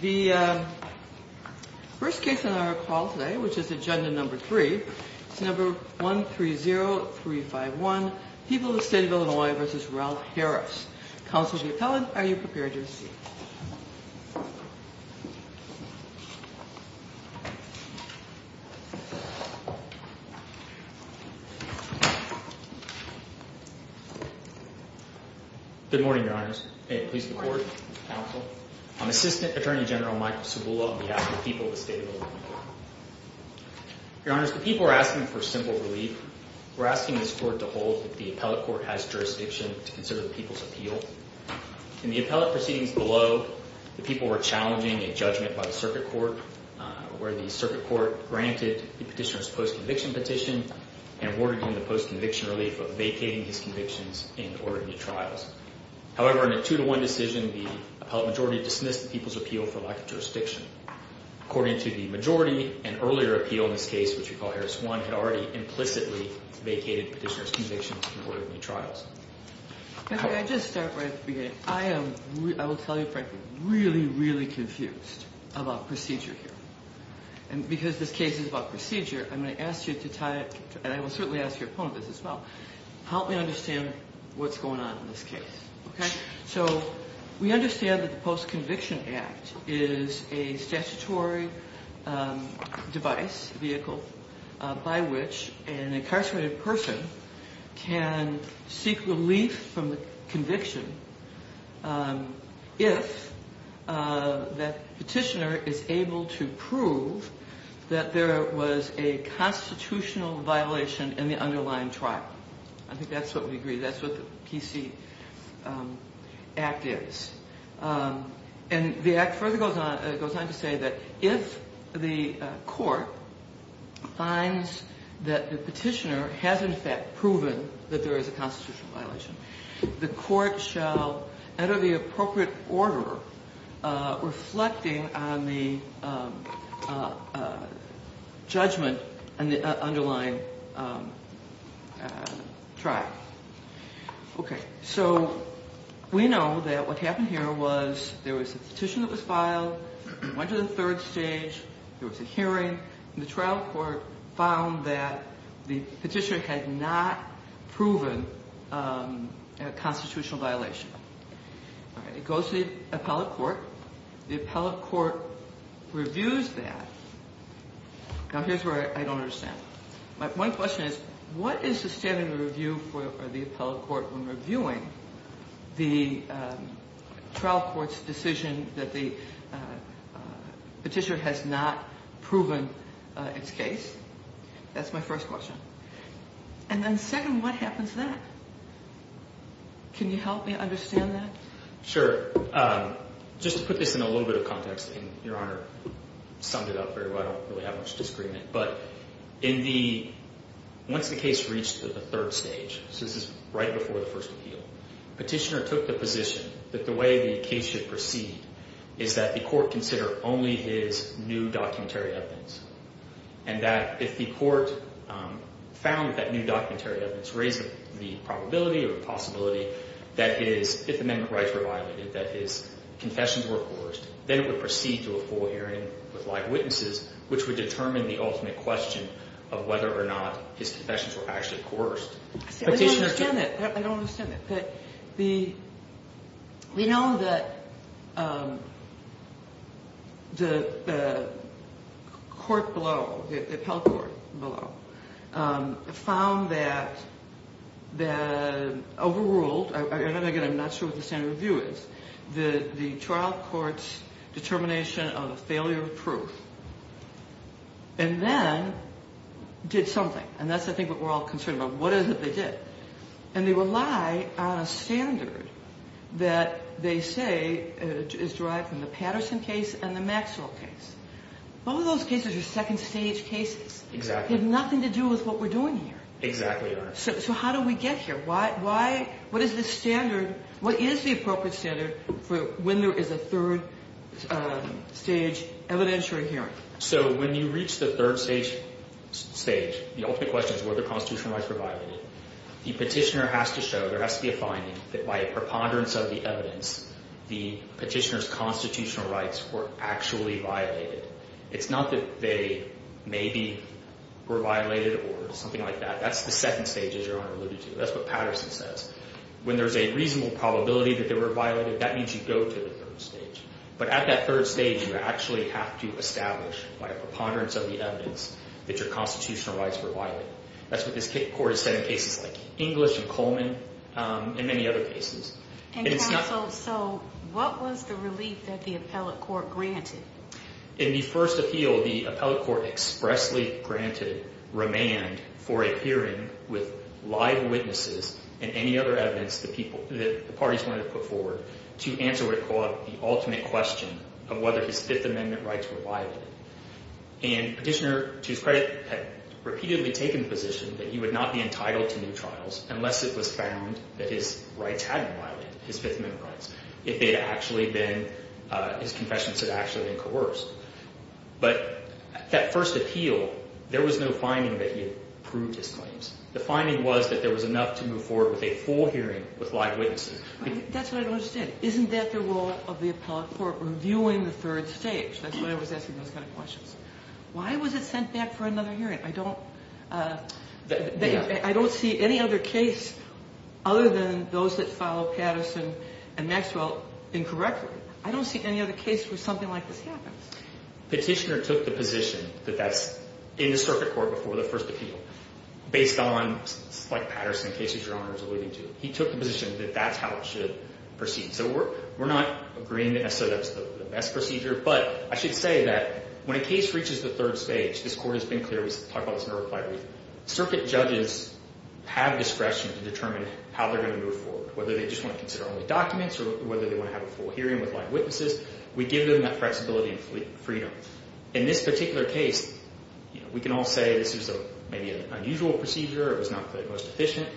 The first case on our call today, which is Agenda No. 3, is No. 130351, People of the State of Illinois v. Ralph Harris. Counsel to the appellant, are you prepared to receive? Good morning, Your Honors. May it please the Court, Counsel. I'm Assistant Attorney General Michael Cibula on behalf of the People of the State of Illinois. Your Honors, the people are asking for simple relief. We're asking this Court to hold that the appellate court has jurisdiction to consider the people's appeal. In the appellate proceedings below, the people were challenging a judgment by the circuit court, where the circuit court granted the petitioner's post-conviction petition and awarded him the post-conviction relief of vacating his convictions in order of new trials. However, in a 2-1 decision, the appellate majority dismissed the people's appeal for lack of jurisdiction. According to the majority, an earlier appeal in this case, which we call Harris 1, had already implicitly vacated the petitioner's convictions in order of new trials. Can I just start right at the beginning? I am, I will tell you frankly, really, really confused about procedure here. And because this case is about procedure, I'm going to ask you to tie it, and I will certainly ask your opponents as well, help me understand what's going on in this case. So, we understand that the Post-Conviction Act is a statutory device, vehicle, by which an incarcerated person can seek relief from the conviction if that petitioner is able to prove that there was a constitutional violation in the underlying trial. I think that's what we agree, that's what the PC Act is. And the Act further goes on to say that if the court finds that the petitioner has in fact proven that there is a constitutional violation, the court shall enter the appropriate order reflecting on the judgment in the underlying trial. Okay, so we know that what happened here was there was a petition that was filed, it went to the third stage, there was a hearing, and the trial court found that the petitioner had not proven a constitutional violation. It goes to the appellate court, the appellate court reviews that. Now, here's where I don't understand. One question is, what is the standard of review for the appellate court when reviewing the trial court's decision that the petitioner has not proven its case? That's my first question. And then second, what happens then? Can you help me understand that? Sure. Just to put this in a little bit of context, and Your Honor summed it up very well, I don't really have much disagreement, but once the case reached the third stage, so this is right before the first appeal, petitioner took the position that the way the case should proceed is that the court consider only his new documentary evidence, and that if the court found that new documentary evidence raised the probability or possibility that his Fifth Amendment rights were violated, that his confessions were coerced, then it would proceed to a full hearing with live witnesses, which would determine the ultimate question of whether or not his confessions were actually coerced. I don't understand that. I don't understand that. We know that the court below, the appellate court below, found that the overruled, and again, I'm not sure what the standard of review is, the trial court's determination of a failure of proof, and then did something, and that's I think what we're all concerned about. What is it they did? And they rely on a standard that they say is derived from the Patterson case and the Maxwell case. Both of those cases are second stage cases. Exactly. They have nothing to do with what we're doing here. Exactly, Your Honor. So how do we get here? What is the appropriate standard for when there is a third stage evidentiary hearing? So when you reach the third stage, the ultimate question is whether constitutional rights were violated. The petitioner has to show, there has to be a finding that by a preponderance of the evidence, the petitioner's constitutional rights were actually violated. It's not that they maybe were violated or something like that. That's the second stage, as Your Honor alluded to. That's what Patterson says. When there's a reasonable probability that they were violated, that means you go to the third stage. But at that third stage, you actually have to establish, by a preponderance of the evidence, that your constitutional rights were violated. That's what this court has said in cases like English and Coleman and many other cases. And Your Honor, so what was the relief that the appellate court granted? In the first appeal, the appellate court expressly granted remand for a hearing with live witnesses and any other evidence that the parties wanted to put forward to answer what it called the ultimate question of whether his Fifth Amendment rights were violated. And Petitioner, to his credit, had repeatedly taken the position that he would not be entitled to new trials unless it was found that his rights hadn't been violated, his Fifth Amendment rights, if his confessions had actually been coerced. But that first appeal, there was no finding that he had proved his claims. The finding was that there was enough to move forward with a full hearing with live witnesses. That's what I don't understand. Isn't that the role of the appellate court, reviewing the third stage? That's why I was asking those kind of questions. Why was it sent back for another hearing? I don't see any other case other than those that follow Patterson and Maxwell incorrectly. I don't see any other case where something like this happens. Petitioner took the position that that's in the circuit court before the first appeal based on, like Patterson, cases Your Honor is alluding to. He took the position that that's how it should proceed. So we're not agreeing that that's the best procedure, but I should say that when a case reaches the third stage, this Court has been clear, we talked about this in our reply brief, circuit judges have discretion to determine how they're going to move forward, whether they just want to consider only documents or whether they want to have a full hearing with live witnesses. We give them that flexibility and freedom. In this particular case, we can all say this is maybe an unusual procedure. It was not the most efficient.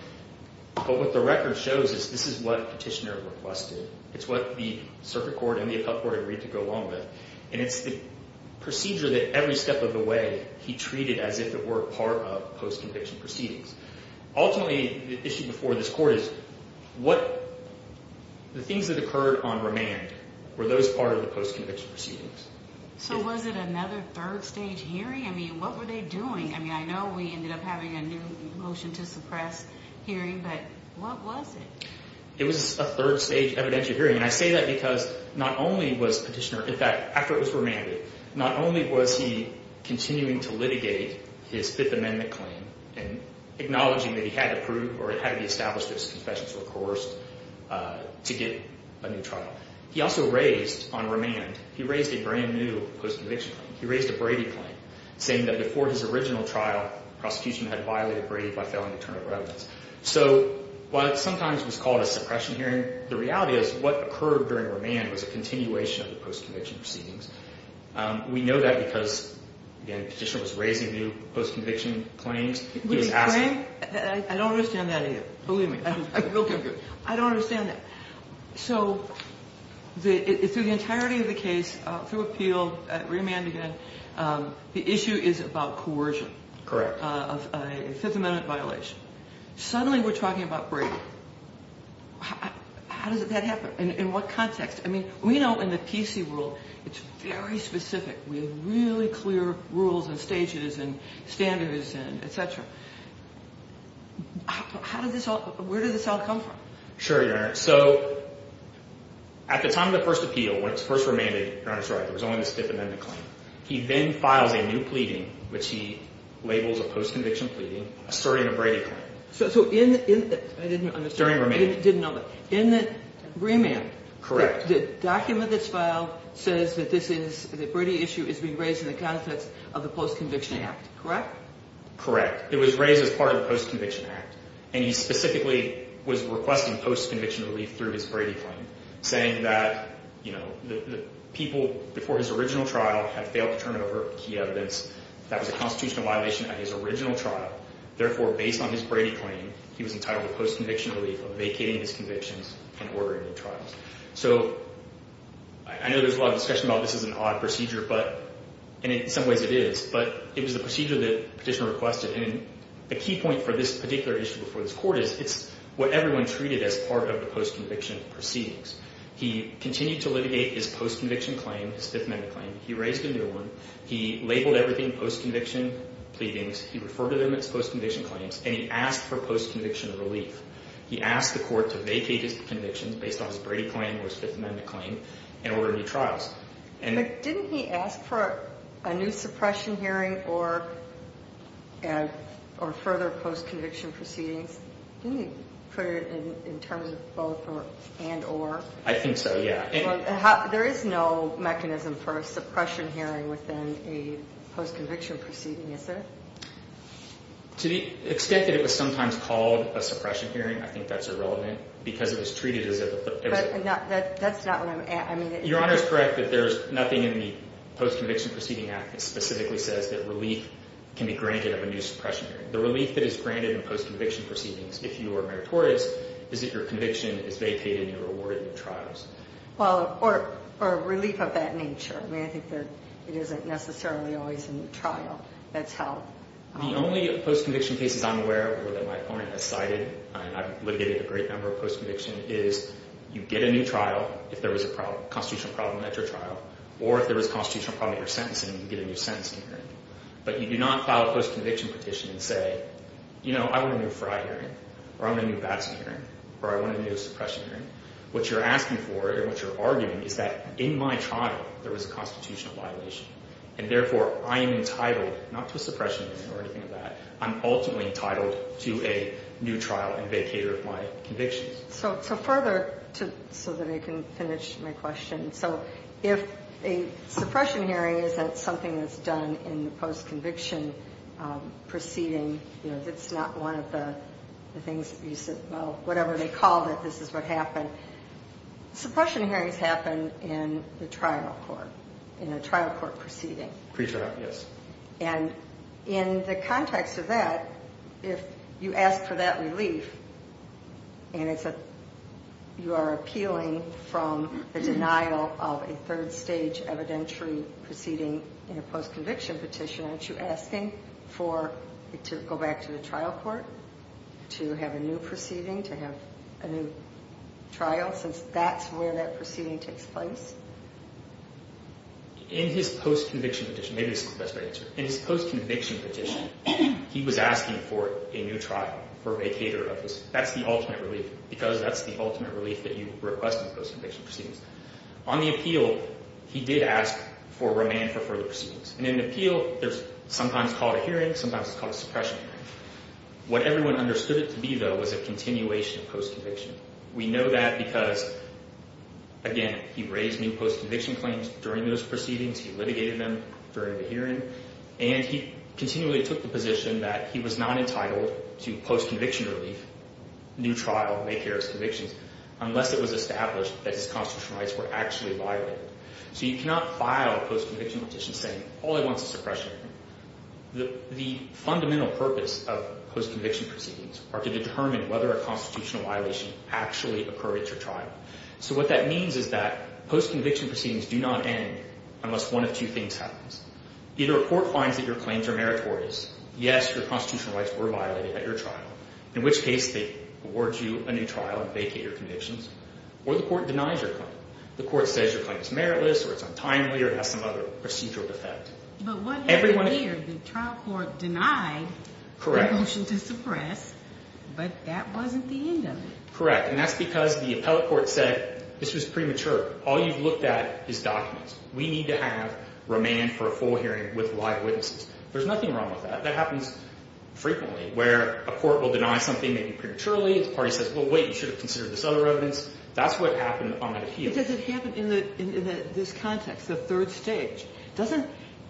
But what the record shows is this is what Petitioner requested. It's what the circuit court and the appellate court agreed to go along with. And it's the procedure that every step of the way, he treated as if it were part of post-conviction proceedings. Ultimately, the issue before this Court is, the things that occurred on remand, were those part of the post-conviction proceedings? So was it another third stage hearing? I mean, what were they doing? I mean, I know we ended up having a new motion to suppress hearing, but what was it? It was a third stage evidentiary hearing. And I say that because not only was Petitioner, in fact, after it was remanded, not only was he continuing to litigate his Fifth Amendment claim and acknowledging that he had to prove or it had to be established that his confessions were coerced to get a new trial, he also raised, on remand, he raised a brand new post-conviction claim. He raised a Brady claim, saying that before his original trial, prosecution had violated Brady by failing to turn up evidence. So while it sometimes was called a suppression hearing, the reality is what occurred during remand was a continuation of the post-conviction proceedings. We know that because, again, Petitioner was raising new post-conviction claims. The claim, I don't understand that either. Believe me, I don't understand that. So through the entirety of the case, through appeal, remand again, the issue is about coercion. Correct. A Fifth Amendment violation. Suddenly we're talking about Brady. How does that happen? In what context? I mean, we know in the PC world it's very specific. We have really clear rules and stages and standards and et cetera. How did this all, where did this all come from? Sure, Your Honor. So at the time of the first appeal, when it was first remanded, Your Honor, sorry, there was only the Fifth Amendment claim. He then files a new pleading, which he labels a post-conviction pleading, asserting a Brady claim. So in the, I didn't understand. During remand. In the remand. Correct. The document that's filed says that this is, the Brady issue is being raised in the context of the post-conviction act. Correct? Correct. It was raised as part of the post-conviction act. And he specifically was requesting post-conviction relief through his Brady claim, saying that, you know, the people before his original trial had failed to turn over key evidence that was a constitutional violation at his original trial. Therefore, based on his Brady claim, he was entitled to post-conviction relief of vacating his convictions and ordering new trials. So I know there's a lot of discussion about this is an odd procedure, but, and in some ways it is, but it was the procedure that Petitioner requested. And the key point for this particular issue before this court is, it's what everyone treated as part of the post-conviction proceedings. He continued to litigate his post-conviction claim, his Fifth Amendment claim. He raised a new one. He labeled everything post-conviction pleadings. He referred to them as post-conviction claims, and he asked for post-conviction relief. He asked the court to vacate his convictions based on his Brady claim or his Fifth Amendment claim and order new trials. Didn't he ask for a new suppression hearing or further post-conviction proceedings? Didn't he put it in terms of both or and or? I think so, yeah. There is no mechanism for a suppression hearing within a post-conviction proceeding, is there? To the extent that it was sometimes called a suppression hearing, I think that's irrelevant because it was treated as a... But that's not what I'm... Your Honor is correct that there's nothing in the Post-Conviction Proceeding Act that specifically says that relief can be granted of a new suppression hearing. The relief that is granted in post-conviction proceedings, if you are meritorious, is that your conviction is vacated and you're awarded new trials. Well, or relief of that nature. I mean, I think that it isn't necessarily always a new trial. That's how... The only post-conviction cases I'm aware of or that my opponent has cited, and I've litigated a great number of post-conviction, is you get a new trial if there was a constitutional problem at your trial or if there was a constitutional problem at your sentencing and you get a new sentencing hearing. But you do not file a post-conviction petition and say, you know, I want a new fried hearing or I want a new basking hearing or I want a new suppression hearing. What you're asking for and what you're arguing is that in my trial there was a constitutional violation, and therefore I am entitled not to a suppression hearing or anything like that. I'm ultimately entitled to a new trial and vacator of my convictions. So further, so that I can finish my question. So if a suppression hearing isn't something that's done in the post-conviction proceeding, you know, it's not one of the things that you said, well, whatever they called it, this is what happened. Suppression hearings happen in the trial court, in a trial court proceeding. Pre-trial, yes. And in the context of that, if you ask for that relief and you are appealing from the denial of a third stage evidentiary proceeding in a post-conviction petition, aren't you asking to go back to the trial court to have a new proceeding, to have a new trial, since that's where that proceeding takes place? In his post-conviction petition, maybe this is the best way to answer it, in his post-conviction petition, he was asking for a new trial, for a vacator of this. That's the ultimate relief, because that's the ultimate relief that you request in post-conviction proceedings. On the appeal, he did ask for remand for further proceedings. And in an appeal, sometimes it's called a hearing, sometimes it's called a suppression hearing. What everyone understood it to be, though, was a continuation of post-conviction. We know that because, again, he raised new post-conviction claims during those proceedings, he litigated them during the hearing, and he continually took the position that he was not entitled to post-conviction relief, new trial, vacators of convictions, unless it was established that his constitutional rights were actually violated. So you cannot file a post-conviction petition saying all I want is a suppression hearing. The fundamental purpose of post-conviction proceedings are to determine whether a constitutional violation actually occurred at your trial. So what that means is that post-conviction proceedings do not end unless one of two things happens. Either a court finds that your claims are meritorious, yes, your constitutional rights were violated at your trial, in which case they award you a new trial and vacate your convictions, or the court denies your claim. The court says your claim is meritless or it's untimely or it has some other procedural defect. But what happened here, the trial court denied the motion to suppress, but that wasn't the end of it. Correct, and that's because the appellate court said this was premature. All you've looked at is documents. We need to have remand for a full hearing with live witnesses. There's nothing wrong with that. That happens frequently where a court will deny something maybe prematurely. The party says, well, wait, you should have considered this other evidence. That's what happened on that appeal. But does it happen in this context, the third stage? Doesn't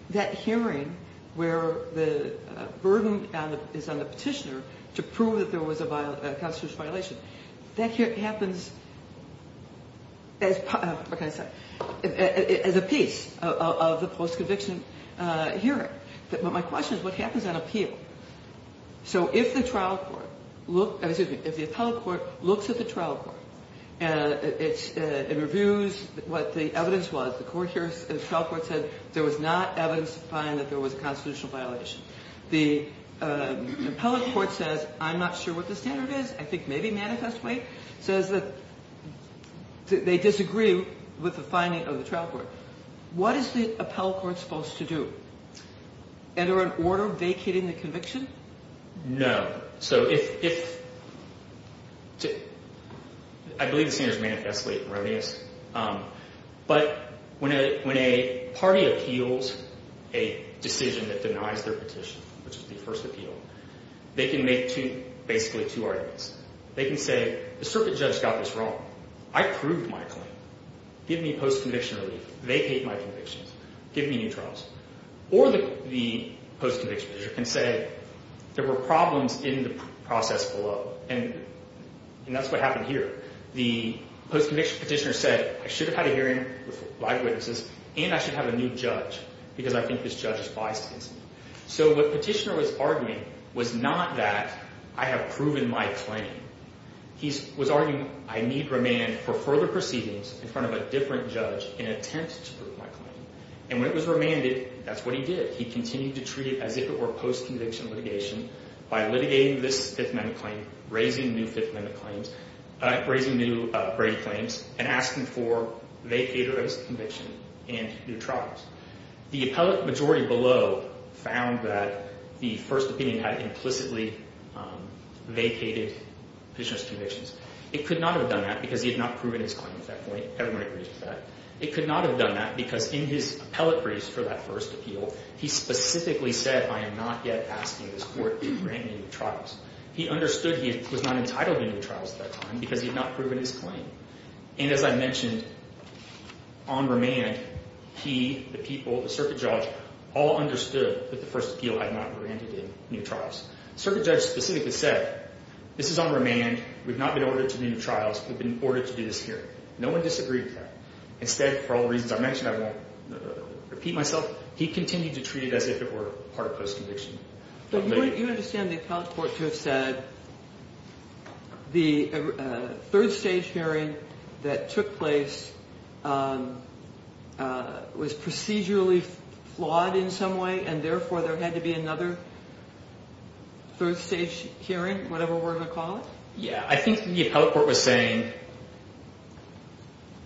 that hearing where the burden is on the petitioner to prove that there was a constitutional violation, that happens as a piece of the post-conviction hearing. But my question is what happens on appeal? So if the trial court looks at the trial court and reviews what the evidence was, the trial court said there was not evidence to find that there was a constitutional violation. The appellate court says, I'm not sure what the standard is. I think maybe manifest way, says that they disagree with the finding of the trial court. What is the appellate court supposed to do? Enter an order vacating the conviction? No. So if ‑‑ I believe the standard is manifestly erroneous. But when a party appeals a decision that denies their petition, which is the first appeal, they can make basically two arguments. They can say the circuit judge got this wrong. I proved my claim. Give me post-conviction relief. Vacate my convictions. Give me new trials. Or the post-conviction petitioner can say there were problems in the process below. And that's what happened here. The post-conviction petitioner said I should have had a hearing with live witnesses and I should have a new judge because I think this judge is biased against me. So what the petitioner was arguing was not that I have proven my claim. He was arguing I need remand for further proceedings in front of a different judge in an attempt to prove my claim. And when it was remanded, that's what he did. He continued to treat it as if it were post-conviction litigation by litigating this Fifth Amendment claim, raising new Fifth Amendment claims, raising new Brady claims, and asking for vacated conviction and new trials. The appellate majority below found that the first opinion had implicitly vacated the petitioner's convictions. It could not have done that because he had not proven his claim at that point. Everyone agrees with that. It could not have done that because in his appellate briefs for that first appeal, he specifically said I am not yet asking this court to grant me new trials. He understood he was not entitled to new trials at that time because he had not proven his claim. And as I mentioned, on remand, he, the people, the circuit judge, all understood that the first appeal had not granted him new trials. Circuit judge specifically said this is on remand. We've not been ordered to do new trials. We've been ordered to do this hearing. No one disagreed with that. Instead, for all the reasons I mentioned, I won't repeat myself, he continued to treat it as if it were part of post-conviction litigation. But you understand the appellate court to have said the third stage hearing that took place was procedurally flawed in some way and therefore there had to be another third stage hearing, whatever we're going to call it? Yeah, I think the appellate court was saying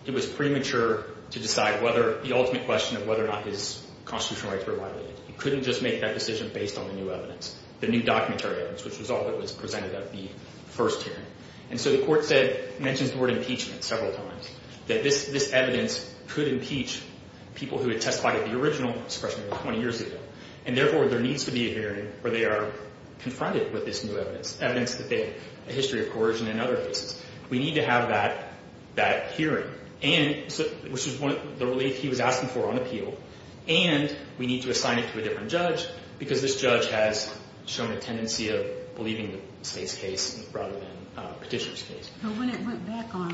it was premature to decide whether the ultimate question of whether or not his constitutional rights were violated. He couldn't just make that decision based on the new evidence, the new documentary evidence, which was all that was presented at the first hearing. And so the court said, mentions the word impeachment several times, that this evidence could impeach people who had testified at the original discretion 20 years ago, and therefore there needs to be a hearing where they are confronted with this new evidence, evidence that they have a history of coercion and other cases. We need to have that hearing, which was the relief he was asking for on appeal, and we need to assign it to a different judge because this judge has shown a tendency of believing the state's case rather than the petitioner's case. But when it went back on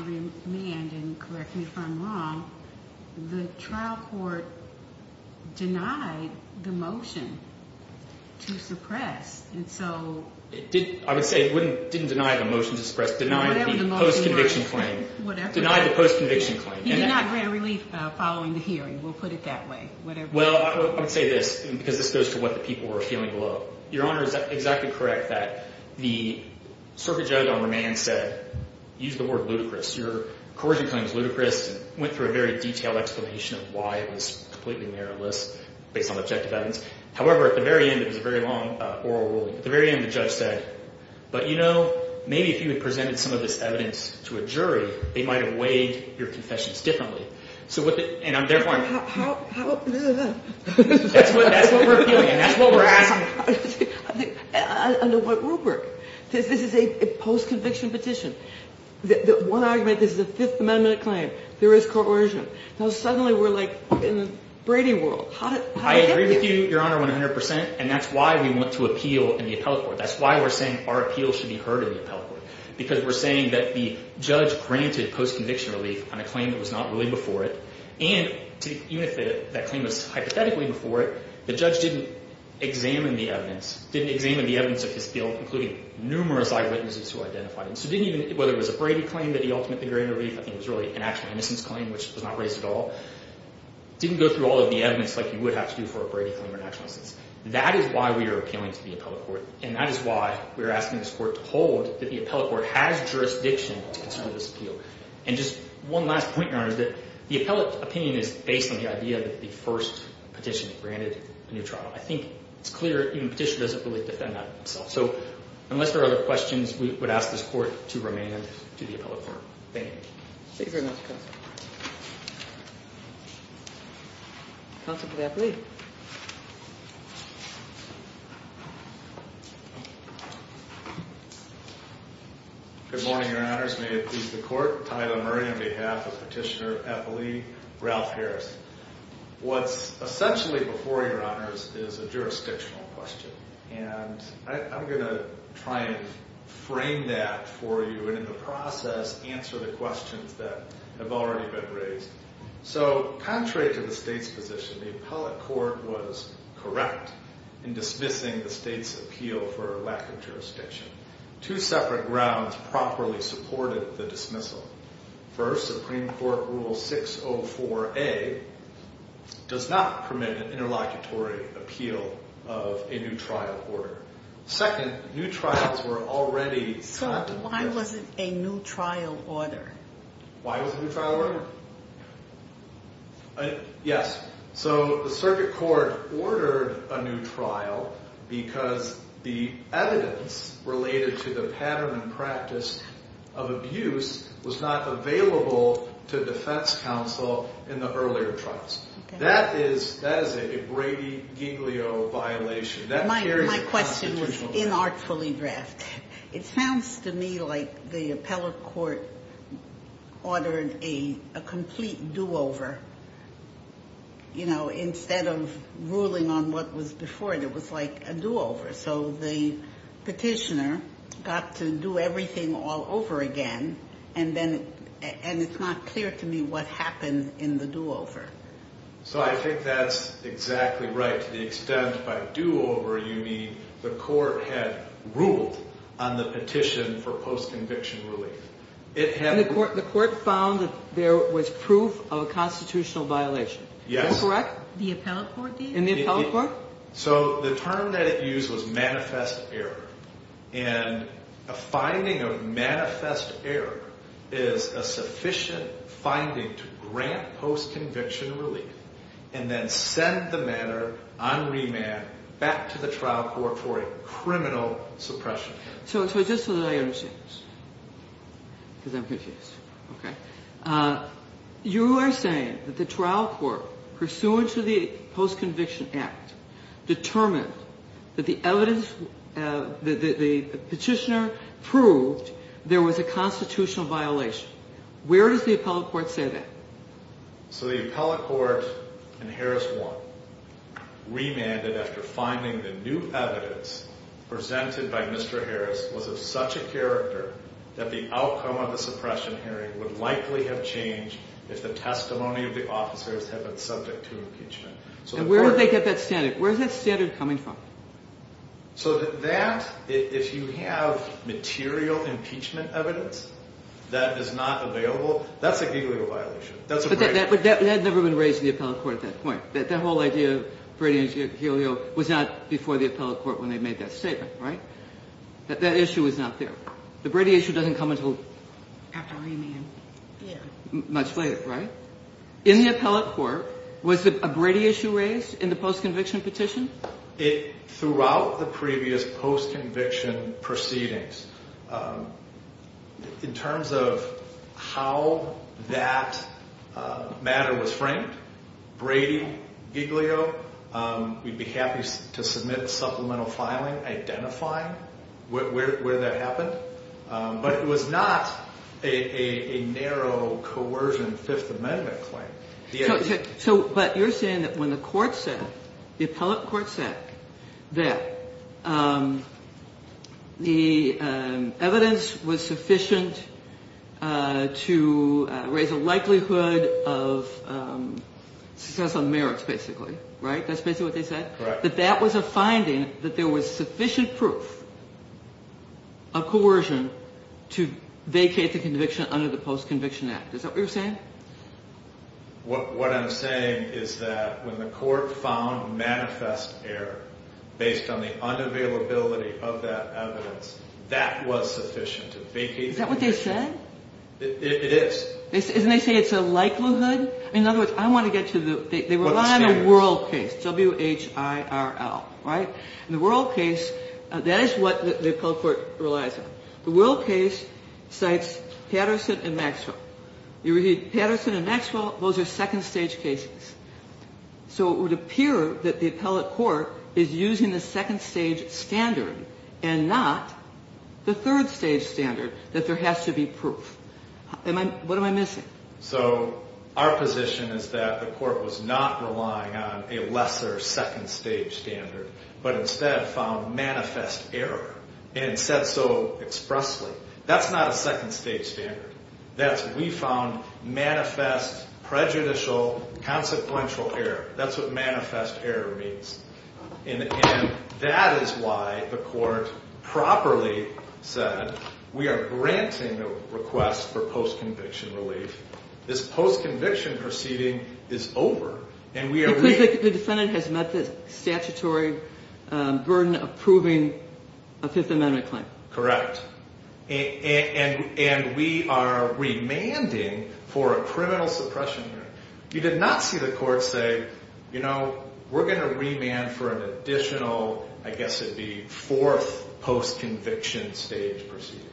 remand, and correct me if I'm wrong, the trial court denied the motion to suppress. I would say it didn't deny the motion to suppress, it denied the post-conviction claim. Whatever. It denied the post-conviction claim. He did not grant relief following the hearing. We'll put it that way. Whatever. Well, I would say this, because this goes to what the people were feeling below. Your Honor is exactly correct that the circuit judge on remand said, use the word ludicrous. Your coercion claim is ludicrous, and went through a very detailed explanation of why it was completely meritless based on objective evidence. However, at the very end, it was a very long oral ruling. At the very end, the judge said, but you know, maybe if you had presented some of this evidence to a jury, they might have weighed your confessions differently. And I'm therefore. That's what we're appealing, and that's what we're asking. Under what rubric? This is a post-conviction petition. One argument, this is a Fifth Amendment claim. There is coercion. Now, suddenly we're like in the Brady world. I agree with you, Your Honor, 100%, and that's why we want to appeal in the appellate court. That's why we're saying our appeal should be heard in the appellate court, because we're saying that the judge granted post-conviction relief on a claim that was not really before it, and even if that claim was hypothetically before it, the judge didn't examine the evidence, didn't examine the evidence of his guilt, including numerous eyewitnesses who identified him. So didn't even, whether it was a Brady claim that he ultimately granted relief, I think it was really an actual innocence claim, which was not raised at all, didn't go through all of the evidence like you would have to do for a Brady claim or an actual innocence. That is why we are appealing to the appellate court, and that is why we're asking this court to hold that the appellate court has jurisdiction to consider this appeal. And just one last point, Your Honor, is that the appellate opinion is based on the idea that the first petition granted a new trial. I think it's clear even the petition doesn't really defend that itself. So unless there are other questions, we would ask this court to remain to the appellate court. Thank you. Thank you very much, Counsel. Counsel, please. Good morning, Your Honors. May it please the court. Tyler Murray on behalf of Petitioner Appellee Ralph Harris. What's essentially before you, Your Honors, is a jurisdictional question. And I'm going to try and frame that for you and in the process answer the questions that have already been raised. So contrary to the state's position, the appellate court was correct in dismissing the state's appeal for lack of jurisdiction. Two separate grounds properly supported the dismissal. First, Supreme Court Rule 604A does not permit an interlocutory appeal of a new trial order. Second, new trials were already conducted. So why was it a new trial order? Why was it a new trial order? Yes, so the circuit court ordered a new trial because the evidence related to the pattern and practice of abuse was not available to defense counsel in the earlier trials. That is a Brady-Giglio violation. My question was inartfully drafted. It sounds to me like the appellate court ordered a complete do-over. You know, instead of ruling on what was before, it was like a do-over. So the petitioner got to do everything all over again and it's not clear to me what happened in the do-over. So I think that's exactly right. To the extent by do-over you mean the court had ruled on the petition for post-conviction relief. The court found that there was proof of a constitutional violation. Yes. Is that correct? The appellate court did? In the appellate court? So the term that it used was manifest error, and a finding of manifest error is a sufficient finding to grant post-conviction relief and then send the matter on remand back to the trial court for a criminal suppression case. So just so that I understand this, because I'm confused, okay, you are saying that the trial court, pursuant to the Post-Conviction Act, determined that the petitioner proved there was a constitutional violation. Where does the appellate court say that? So the appellate court in Harris 1, remanded after finding the new evidence presented by Mr. Harris was of such a character that the outcome of the suppression hearing would likely have changed if the testimony of the officers had been subject to impeachment. And where would they get that standard? Where is that standard coming from? So that, if you have material impeachment evidence that is not available, that's a Gileo violation. But that had never been raised in the appellate court at that point. That whole idea of Brady and Gileo was not before the appellate court when they made that statement, right? That issue was not there. The Brady issue doesn't come until after remand. Much later, right? In the appellate court, was a Brady issue raised in the post-conviction petition? Throughout the previous post-conviction proceedings, in terms of how that matter was framed, Brady, Gileo, we'd be happy to submit supplemental filing identifying where that happened. But it was not a narrow coercion Fifth Amendment claim. But you're saying that when the court said, the appellate court said, that the evidence was sufficient to raise a likelihood of success on merits, basically, right? That's basically what they said? Correct. That that was a finding, that there was sufficient proof of coercion to vacate the conviction under the Post-Conviction Act. Is that what you're saying? What I'm saying is that when the court found manifest error based on the unavailability of that evidence, that was sufficient to vacate the conviction. Is that what they said? It is. Isn't it saying it's a likelihood? In other words, I want to get to the – They rely on a world case, W-H-I-R-L, right? And the world case, that is what the appellate court relies on. The world case cites Patterson and Maxwell. You read Patterson and Maxwell, those are second-stage cases. So it would appear that the appellate court is using the second-stage standard and not the third-stage standard, that there has to be proof. What am I missing? So our position is that the court was not relying on a lesser second-stage standard but instead found manifest error and said so expressly. That's not a second-stage standard. We found manifest, prejudicial, consequential error. That's what manifest error means. And that is why the court properly said we are granting the request for post-conviction relief. This post-conviction proceeding is over. Because the defendant has met the statutory burden of proving a Fifth Amendment claim. Correct. And we are remanding for a criminal suppression hearing. You did not see the court say, you know, we're going to remand for an additional, I guess it would be fourth post-conviction stage proceeding.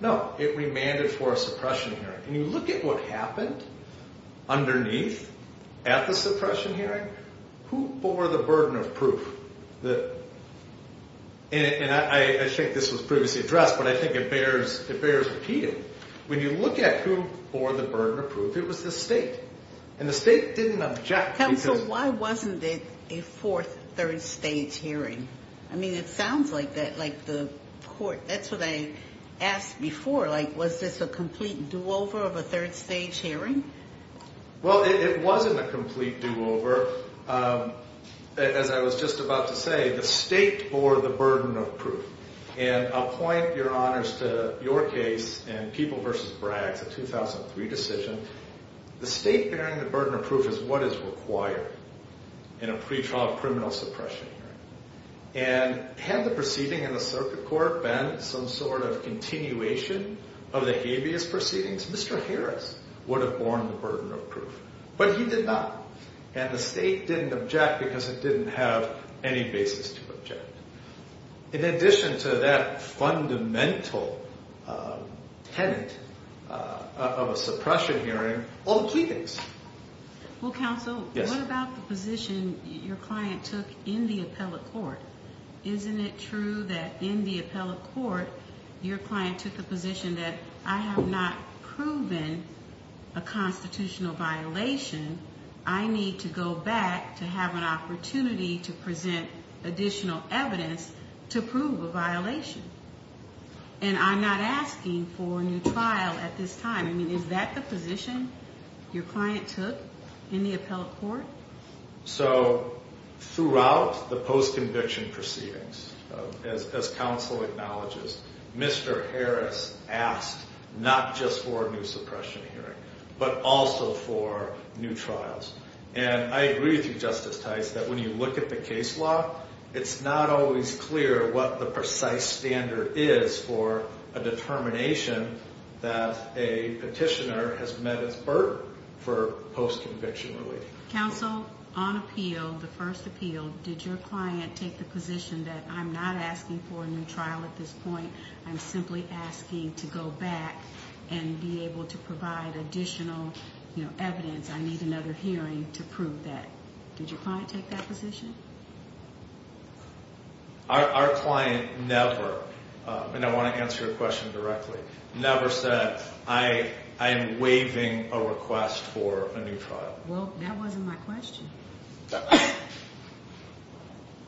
No, it remanded for a suppression hearing. And you look at what happened underneath at the suppression hearing. Who bore the burden of proof? And I think this was previously addressed, but I think it bears repeating. When you look at who bore the burden of proof, it was the state. And the state didn't object. Counsel, why wasn't it a fourth, third-stage hearing? I mean, it sounds like that, like the court, that's what I asked before. Like, was this a complete do-over of a third-stage hearing? Well, it wasn't a complete do-over. As I was just about to say, the state bore the burden of proof. And I'll point, Your Honors, to your case in People v. Braggs, a 2003 decision. The state bearing the burden of proof is what is required in a pretrial criminal suppression hearing. And had the proceeding in the circuit court been some sort of continuation of the habeas proceedings, Mr. Harris would have borne the burden of proof. But he did not. And the state didn't object because it didn't have any basis to object. In addition to that fundamental tenet of a suppression hearing, all the key things. Well, Counsel, what about the position your client took in the appellate court? Isn't it true that in the appellate court, your client took the position that, I have not proven a constitutional violation. I need to go back to have an opportunity to present additional evidence to prove a violation. And I'm not asking for a new trial at this time. I mean, is that the position your client took in the appellate court? So, throughout the post-conviction proceedings, as Counsel acknowledges, Mr. Harris asked not just for a new suppression hearing, but also for new trials. And I agree with you, Justice Tice, that when you look at the case law, it's not always clear what the precise standard is for a determination that a petitioner has met its burden for post-conviction relief. Counsel, on appeal, the first appeal, did your client take the position that, I'm not asking for a new trial at this point. I'm simply asking to go back and be able to provide additional evidence. I need another hearing to prove that. Did your client take that position? Our client never, and I want to answer your question directly, never said, I am waiving a request for a new trial. Well, that wasn't my question.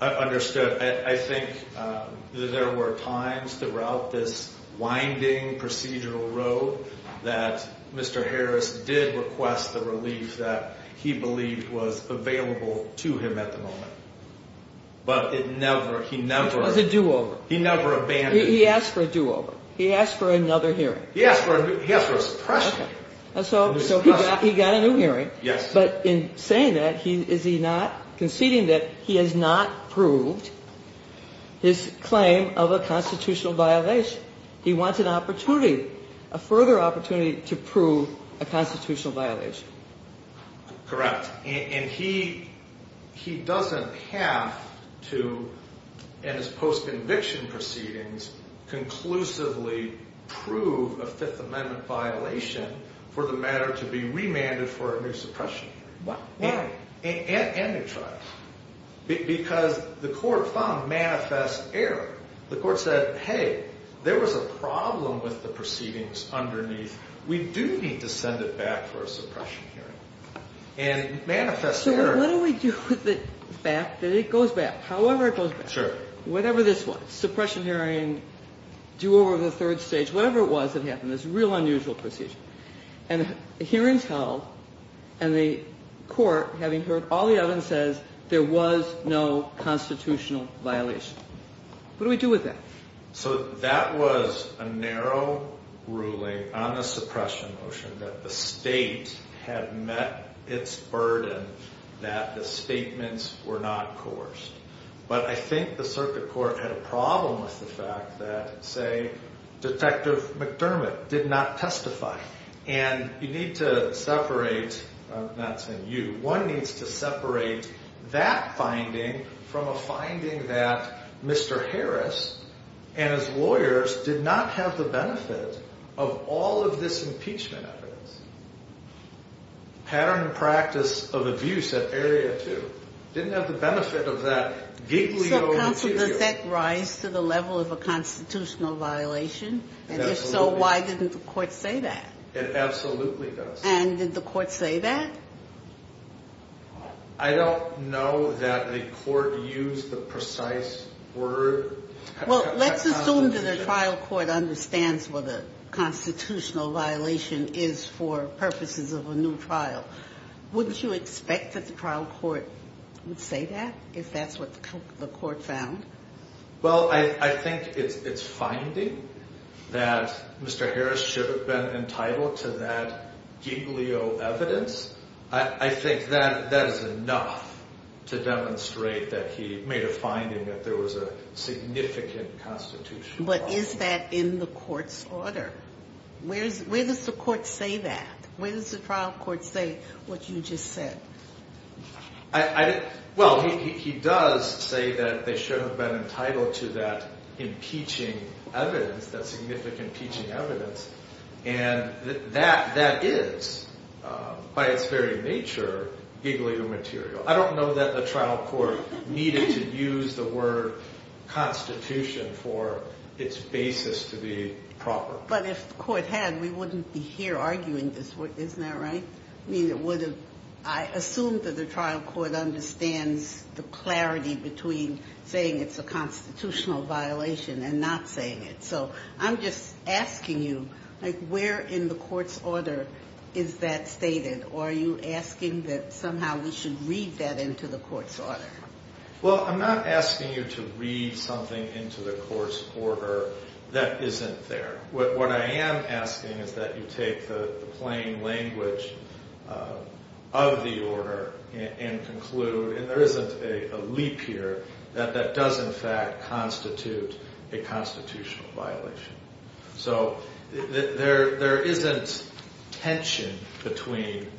I understood. I think there were times throughout this winding procedural road that Mr. Harris did request the relief that he believed was available to him at the moment. But it never, he never. It was a do-over. He never abandoned. He asked for a do-over. He asked for another hearing. He asked for a suppression hearing. So he got a new hearing. Yes. But in saying that, is he not conceding that he has not proved his claim of a constitutional violation? He wants an opportunity, a further opportunity to prove a constitutional violation. Correct. And he doesn't have to, in his post-conviction proceedings, conclusively prove a Fifth Amendment violation for the matter to be remanded for a new suppression hearing. Why? And a new trial, because the court found manifest error. The court said, hey, there was a problem with the proceedings underneath. We do need to send it back for a suppression hearing. And manifest error. So what do we do with it back, that it goes back, however it goes back? Sure. Whatever this was, suppression hearing, do-over of the third stage, whatever it was that happened, this real unusual procedure. And a hearing is held, and the court, having heard all the evidence, says there was no constitutional violation. What do we do with that? So that was a narrow ruling on the suppression motion, that the state had met its burden that the statements were not coerced. But I think the circuit court had a problem with the fact that, say, Detective McDermott did not testify. And you need to separate, not saying you, one needs to separate that finding from a finding that Mr. Harris and his lawyers did not have the benefit of all of this impeachment evidence. Pattern and practice of abuse at Area 2 didn't have the benefit of that giggly old material. So counsel, does that rise to the level of a constitutional violation? And if so, why didn't the court say that? It absolutely does. And did the court say that? I don't know that the court used the precise word. Well, let's assume that a trial court understands what a constitutional violation is for purposes of a new trial. Wouldn't you expect that the trial court would say that if that's what the court found? Well, I think it's finding that Mr. Harris should have been entitled to that giggly old evidence. I think that is enough to demonstrate that he made a finding that there was a significant constitutional violation. But is that in the court's order? Where does the court say that? Where does the trial court say what you just said? Well, he does say that they should have been entitled to that impeaching evidence, that significant impeaching evidence. And that is, by its very nature, giggly old material. I don't know that the trial court needed to use the word constitution for its basis to be proper. But if the court had, we wouldn't be here arguing this. Isn't that right? I mean, it would have. I assume that the trial court understands the clarity between saying it's a constitutional violation and not saying it. So I'm just asking you, where in the court's order is that stated? Or are you asking that somehow we should read that into the court's order? Well, I'm not asking you to read something into the court's order that isn't there. What I am asking is that you take the plain language of the order and conclude, and there isn't a leap here, that that does in fact constitute a constitutional violation. So there isn't tension between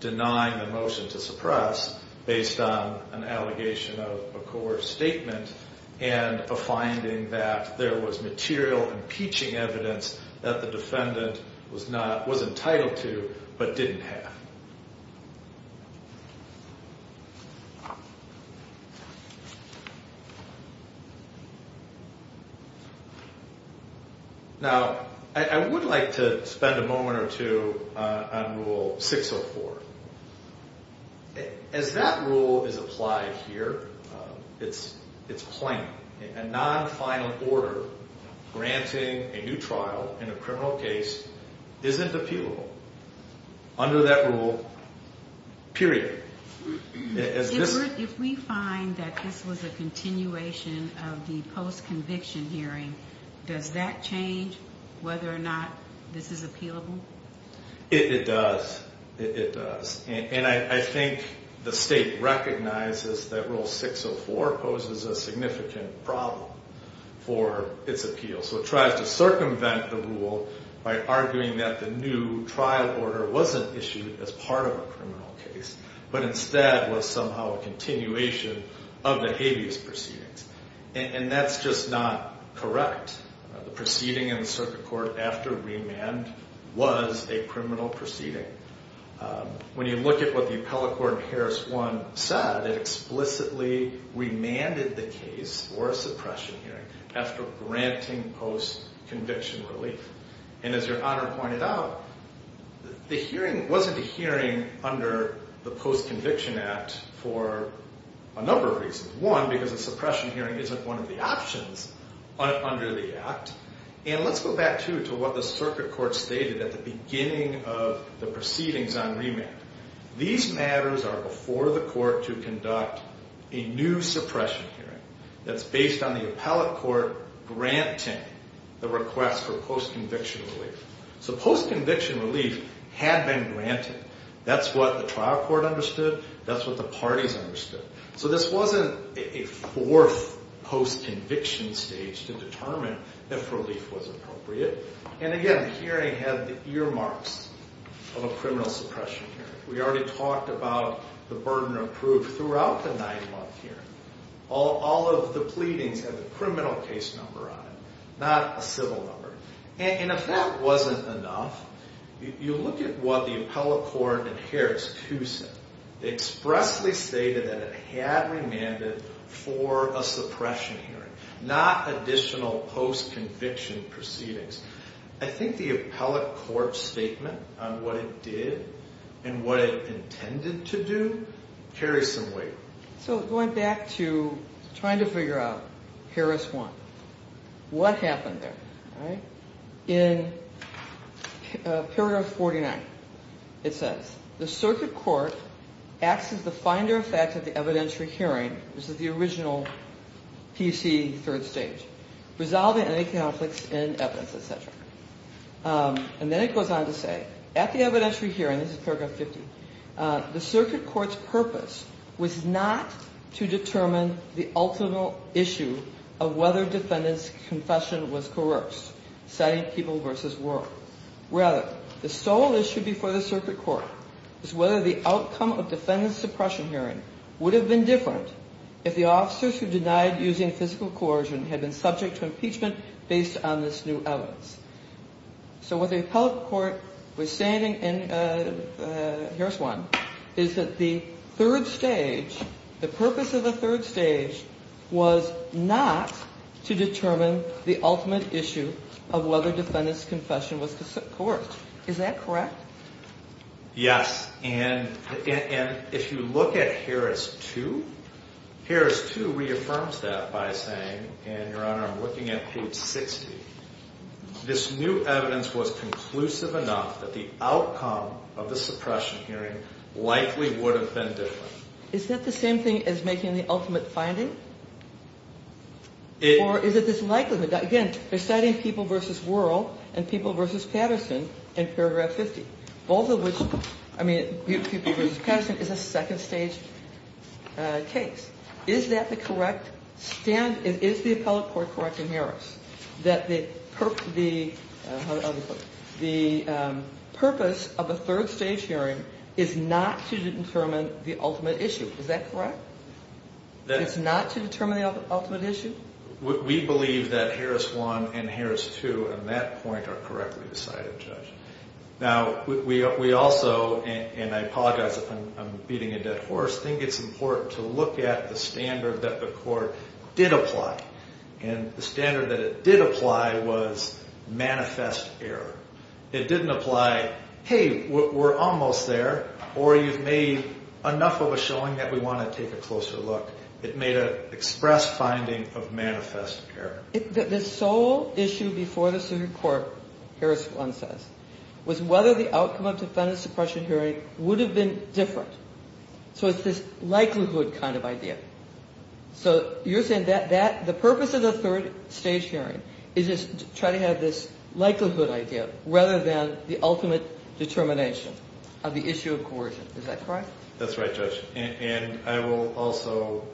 denying the motion to suppress based on an allegation of a coerced statement and a finding that there was material impeaching evidence that the defendant was entitled to but didn't have. Now, I would like to spend a moment or two on Rule 604. As that rule is applied here, it's plain. A non-final order granting a new trial in a criminal case isn't appealable under that rule, period. If we find that this was a continuation of the post-conviction hearing, does that change whether or not this is appealable? It does. It does. And I think the state recognizes that Rule 604 poses a significant problem for its appeal. So it tries to circumvent the rule by arguing that the new trial order wasn't issued as part of a criminal case, but instead was somehow a continuation of the habeas proceedings. And that's just not correct. The proceeding in the circuit court after remand was a criminal proceeding. When you look at what the appellate court in Harris 1 said, it explicitly remanded the case for a suppression hearing after granting post-conviction relief. And as Your Honor pointed out, the hearing wasn't a hearing under the Post-Conviction Act for a number of reasons. One, because a suppression hearing isn't one of the options under the Act. And let's go back, too, to what the circuit court stated at the beginning of the proceedings on remand. These matters are before the court to conduct a new suppression hearing that's based on the appellate court granting the request for post-conviction relief. So post-conviction relief had been granted. That's what the trial court understood. That's what the parties understood. So this wasn't a fourth post-conviction stage to determine if relief was appropriate. And again, the hearing had the earmarks of a criminal suppression hearing. We already talked about the burden of proof throughout the nine-month hearing. All of the pleadings had the criminal case number on it, not a civil number. And if that wasn't enough, you look at what the appellate court in Harris 2 said. They expressly stated that it had remanded for a suppression hearing, not additional post-conviction proceedings. I think the appellate court statement on what it did and what it intended to do carries some weight. So going back to trying to figure out Harris 1, what happened there? In paragraph 49, it says, the circuit court acts as the finder of facts at the evidentiary hearing, this is the original PC third stage, resolving any conflicts in evidence, etc. And then it goes on to say, at the evidentiary hearing, this is paragraph 50, the circuit court's purpose was not to determine the ultimate issue of whether defendant's confession was coerced, citing people versus word. Rather, the sole issue before the circuit court is whether the outcome of defendant's suppression hearing would have been different if the officers who denied using physical coercion had been subject to impeachment based on this new evidence. So what the appellate court was saying in Harris 1 is that the purpose of the third stage was not to determine the ultimate issue of whether defendant's confession was coerced. Is that correct? Yes, and if you look at Harris 2, Harris 2 reaffirms that by saying, and Your Honor, I'm looking at page 60, this new evidence was conclusive enough that the outcome of the suppression hearing likely would have been different. Is that the same thing as making the ultimate finding? Or is it this likelihood? Again, they're citing people versus world and people versus Patterson in paragraph 50, both of which, I mean, people versus Patterson is a second stage case. Is that the correct stand? Is the appellate court correct in Harris that the purpose of a third stage hearing is not to determine the ultimate issue? Is that correct? That it's not to determine the ultimate issue? We believe that Harris 1 and Harris 2 on that point are correctly decided, Judge. Now, we also, and I apologize if I'm beating a dead horse, think it's important to look at the standard that the court did apply. And the standard that it did apply was manifest error. It didn't apply, hey, we're almost there, or you've made enough of a showing that we want to take a closer look. It made an express finding of manifest error. The sole issue before the Supreme Court, Harris 1 says, was whether the outcome of defendant suppression hearing would have been different. So it's this likelihood kind of idea. So you're saying that the purpose of the third stage hearing is just to try to have this likelihood idea rather than the ultimate determination of the issue of coercion. Is that correct? That's right, Judge. And I will also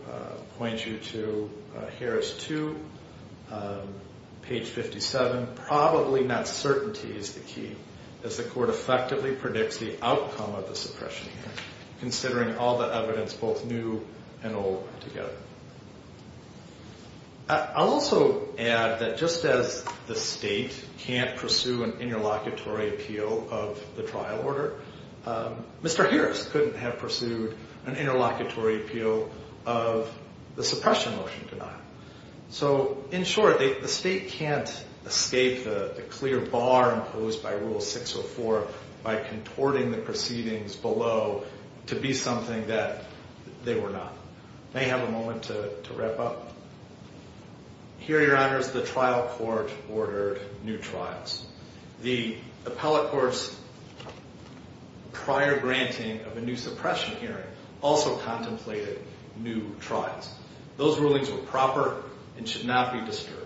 point you to Harris 2, page 57, probably not certainty is the key as the court effectively predicts the outcome of the suppression hearing, considering all the evidence both new and old together. I'll also add that just as the state can't pursue an interlocutory appeal of the trial order, Mr. Harris couldn't have pursued an interlocutory appeal of the suppression motion denial. So in short, the state can't escape the clear bar imposed by Rule 604 by contorting the proceedings below to be something that they were not. May I have a moment to wrap up? Here, Your Honors, the trial court ordered new trials. The appellate court's prior granting of a new suppression hearing also contemplated new trials. Those rulings were proper and should not be disturbed.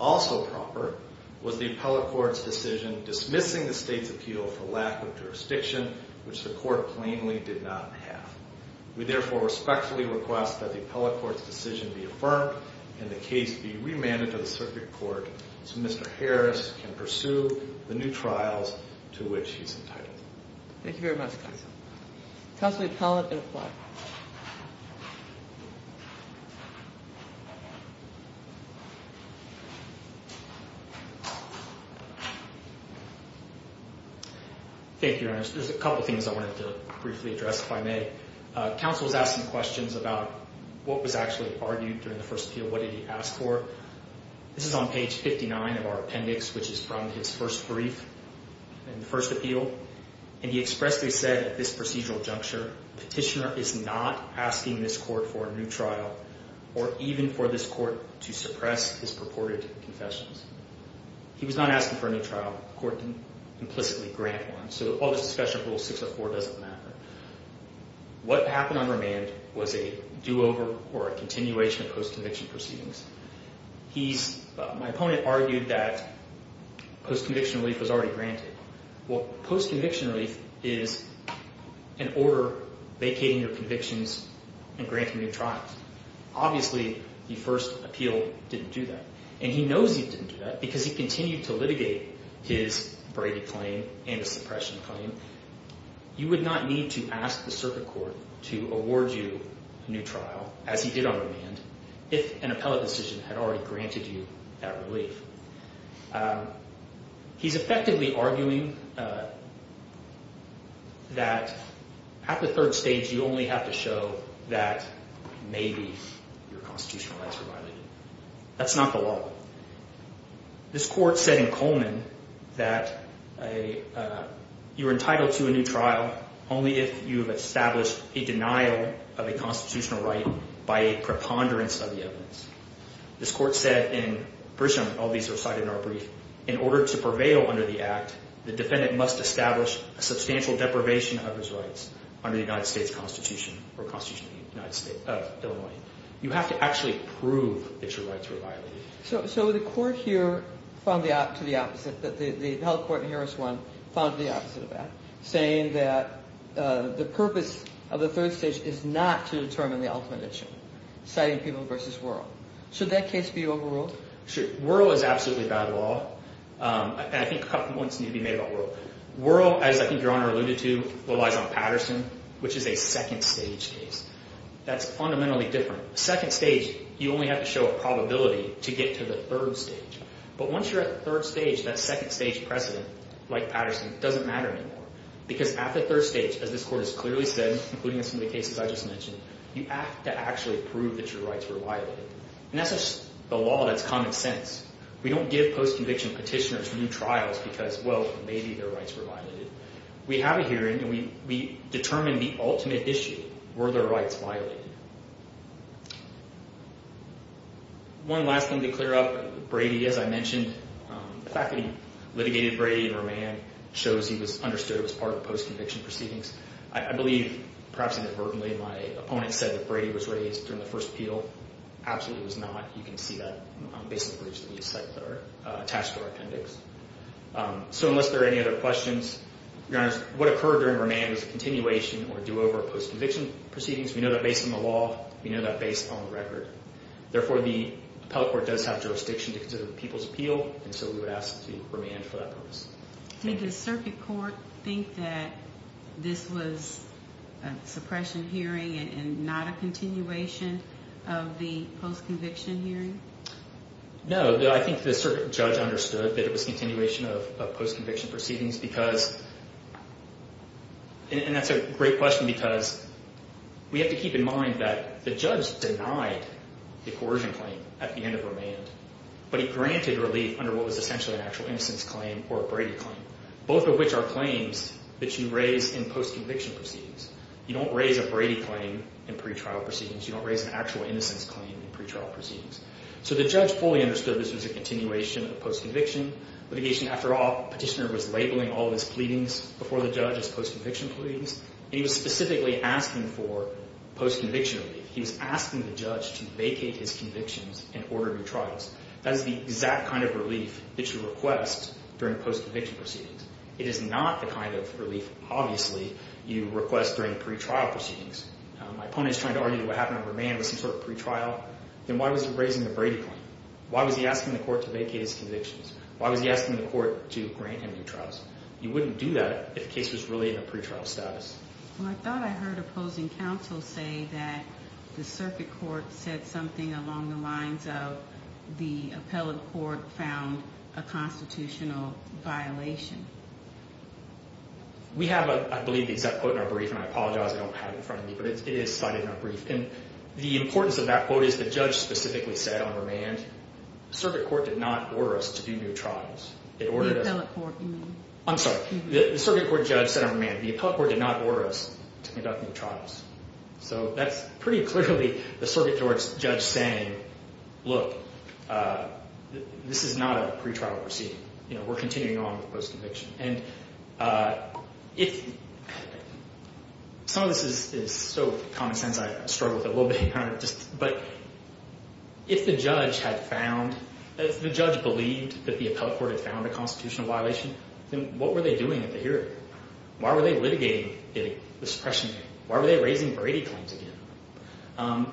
Also proper was the appellate court's decision dismissing the state's appeal for lack of jurisdiction, which the court plainly did not have. We therefore respectfully request that the appellate court's decision be affirmed and the case be remanded to the circuit court so Mr. Harris can pursue the new trials to which he's entitled. Thank you very much, counsel. Counsel, the appellate will apply. Thank you, Your Honors. There's a couple of things I wanted to briefly address, if I may. Counsel was asking questions about what was actually argued during the first appeal. What did he ask for? This is on page 59 of our appendix, which is from his first brief in the first appeal. And he expressly said at this procedural juncture, Petitioner is not asking this court for a new trial or even for this court to suppress his purported confessions. He was not asking for a new trial. The court didn't implicitly grant one. So all this discussion of Rule 604 doesn't matter. What happened on remand was a do-over or a continuation of post-conviction proceedings. My opponent argued that post-conviction relief was already granted. Well, post-conviction relief is an order vacating your convictions and granting you trials. Obviously, the first appeal didn't do that. And he knows he didn't do that because he continued to litigate his Brady claim and his suppression claim. You would not need to ask the circuit court to award you a new trial, as he did on remand, if an appellate decision had already granted you that relief. He's effectively arguing that at the third stage, you only have to show that maybe your constitutional rights were violated. That's not the law. This court said in Coleman that you're entitled to a new trial only if you have established a denial of a constitutional right by a preponderance of the evidence. This court said in Brisham, all these are cited in our brief, in order to prevail under the Act, the defendant must establish a substantial deprivation of his rights under the United States Constitution or Constitution of Illinois. You have to actually prove that your rights were violated. So the court here found the opposite. The held court in Harris 1 found the opposite of that, saying that the purpose of the third stage is not to determine the ultimate issue, citing Peeble v. Wuerl. Should that case be overruled? Sure. Wuerl is absolutely bad law. And I think a couple of points need to be made about Wuerl. Wuerl, as I think Your Honor alluded to, relies on Patterson, which is a second-stage case. That's fundamentally different. Second stage, you only have to show a probability to get to the third stage. But once you're at the third stage, that second-stage precedent, like Patterson, doesn't matter anymore. Because at the third stage, as this court has clearly said, including in some of the cases I just mentioned, you have to actually prove that your rights were violated. And that's a law that's common sense. We don't give post-conviction petitioners new trials because, well, maybe their rights were violated. We have a hearing, and we determine the ultimate issue. Were their rights violated? One last thing to clear up. Brady, as I mentioned. The fact that he litigated Brady for a man shows he was understood as part of the post-conviction proceedings. I believe, perhaps inadvertently, my opponent said that Brady was raised during the first appeal. Absolutely he was not. You can see that basically just on these sites that are attached to our appendix. So unless there are any other questions, Your Honor, what occurred during remand was a continuation or do-over of post-conviction proceedings. We know that based on the law. We know that based on the record. Therefore, the appellate court does have jurisdiction to consider the people's appeal. And so we would ask to remand for that purpose. Did the circuit court think that this was a suppression hearing and not a continuation of the post-conviction hearing? No. I think the circuit judge understood that it was a continuation of post-conviction proceedings because, and that's a great question because we have to keep in mind that the judge denied the coercion claim at the end of remand, but he granted relief under what was essentially an actual innocence claim or a Brady claim. Both of which are claims that you raise in post-conviction proceedings. You don't raise a Brady claim in pretrial proceedings. You don't raise an actual innocence claim in pretrial proceedings. So the judge fully understood this was a continuation of post-conviction litigation. After all, the petitioner was labeling all of his pleadings before the judge as post-conviction pleadings. And he was specifically asking for post-conviction relief. He was asking the judge to vacate his convictions and order new trials. That is the exact kind of relief that you request during post-conviction proceedings. It is not the kind of relief, obviously, you request during pretrial proceedings. My opponent is trying to argue what happened in remand was some sort of pretrial. Then why was he raising the Brady claim? Why was he asking the court to vacate his convictions? Why was he asking the court to grant him new trials? You wouldn't do that if the case was really in a pretrial status. Well, I thought I heard opposing counsel say that the circuit court said something along the lines of the appellate court found a constitutional violation. We have, I believe, the exact quote in our brief. And I apologize, I don't have it in front of me. But it is cited in our brief. And the importance of that quote is the judge specifically said on remand, the circuit court did not order us to do new trials. The appellate court, you mean? I'm sorry. The circuit court judge said on remand, the appellate court did not order us to conduct new trials. So that's pretty clearly the circuit court's judge saying, look, this is not a pretrial proceeding. We're continuing on with the post-conviction. And some of this is so common sense I struggle with it a little bit. But if the judge had found, if the judge believed that the appellate court had found a constitutional violation, then what were they doing at the hearing? Why were they litigating the suppression? Why were they raising Brady claims again?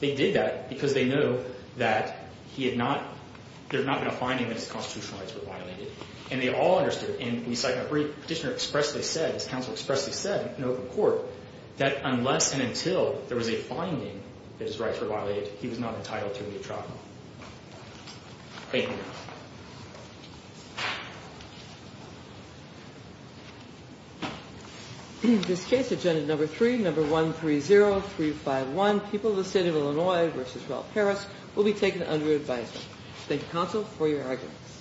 They did that because they knew that there had not been a finding that his constitutional rights were violated. And they all understood. And we cite in our brief, Petitioner expressly said, as counsel expressly said in open court, that unless and until there was a finding that his rights were violated, he was not entitled to a new trial. Thank you. Thank you. In this case, agenda number three, number 130351, people of the state of Illinois versus rural Paris will be taken under advisement. Thank you, counsel, for your arguments.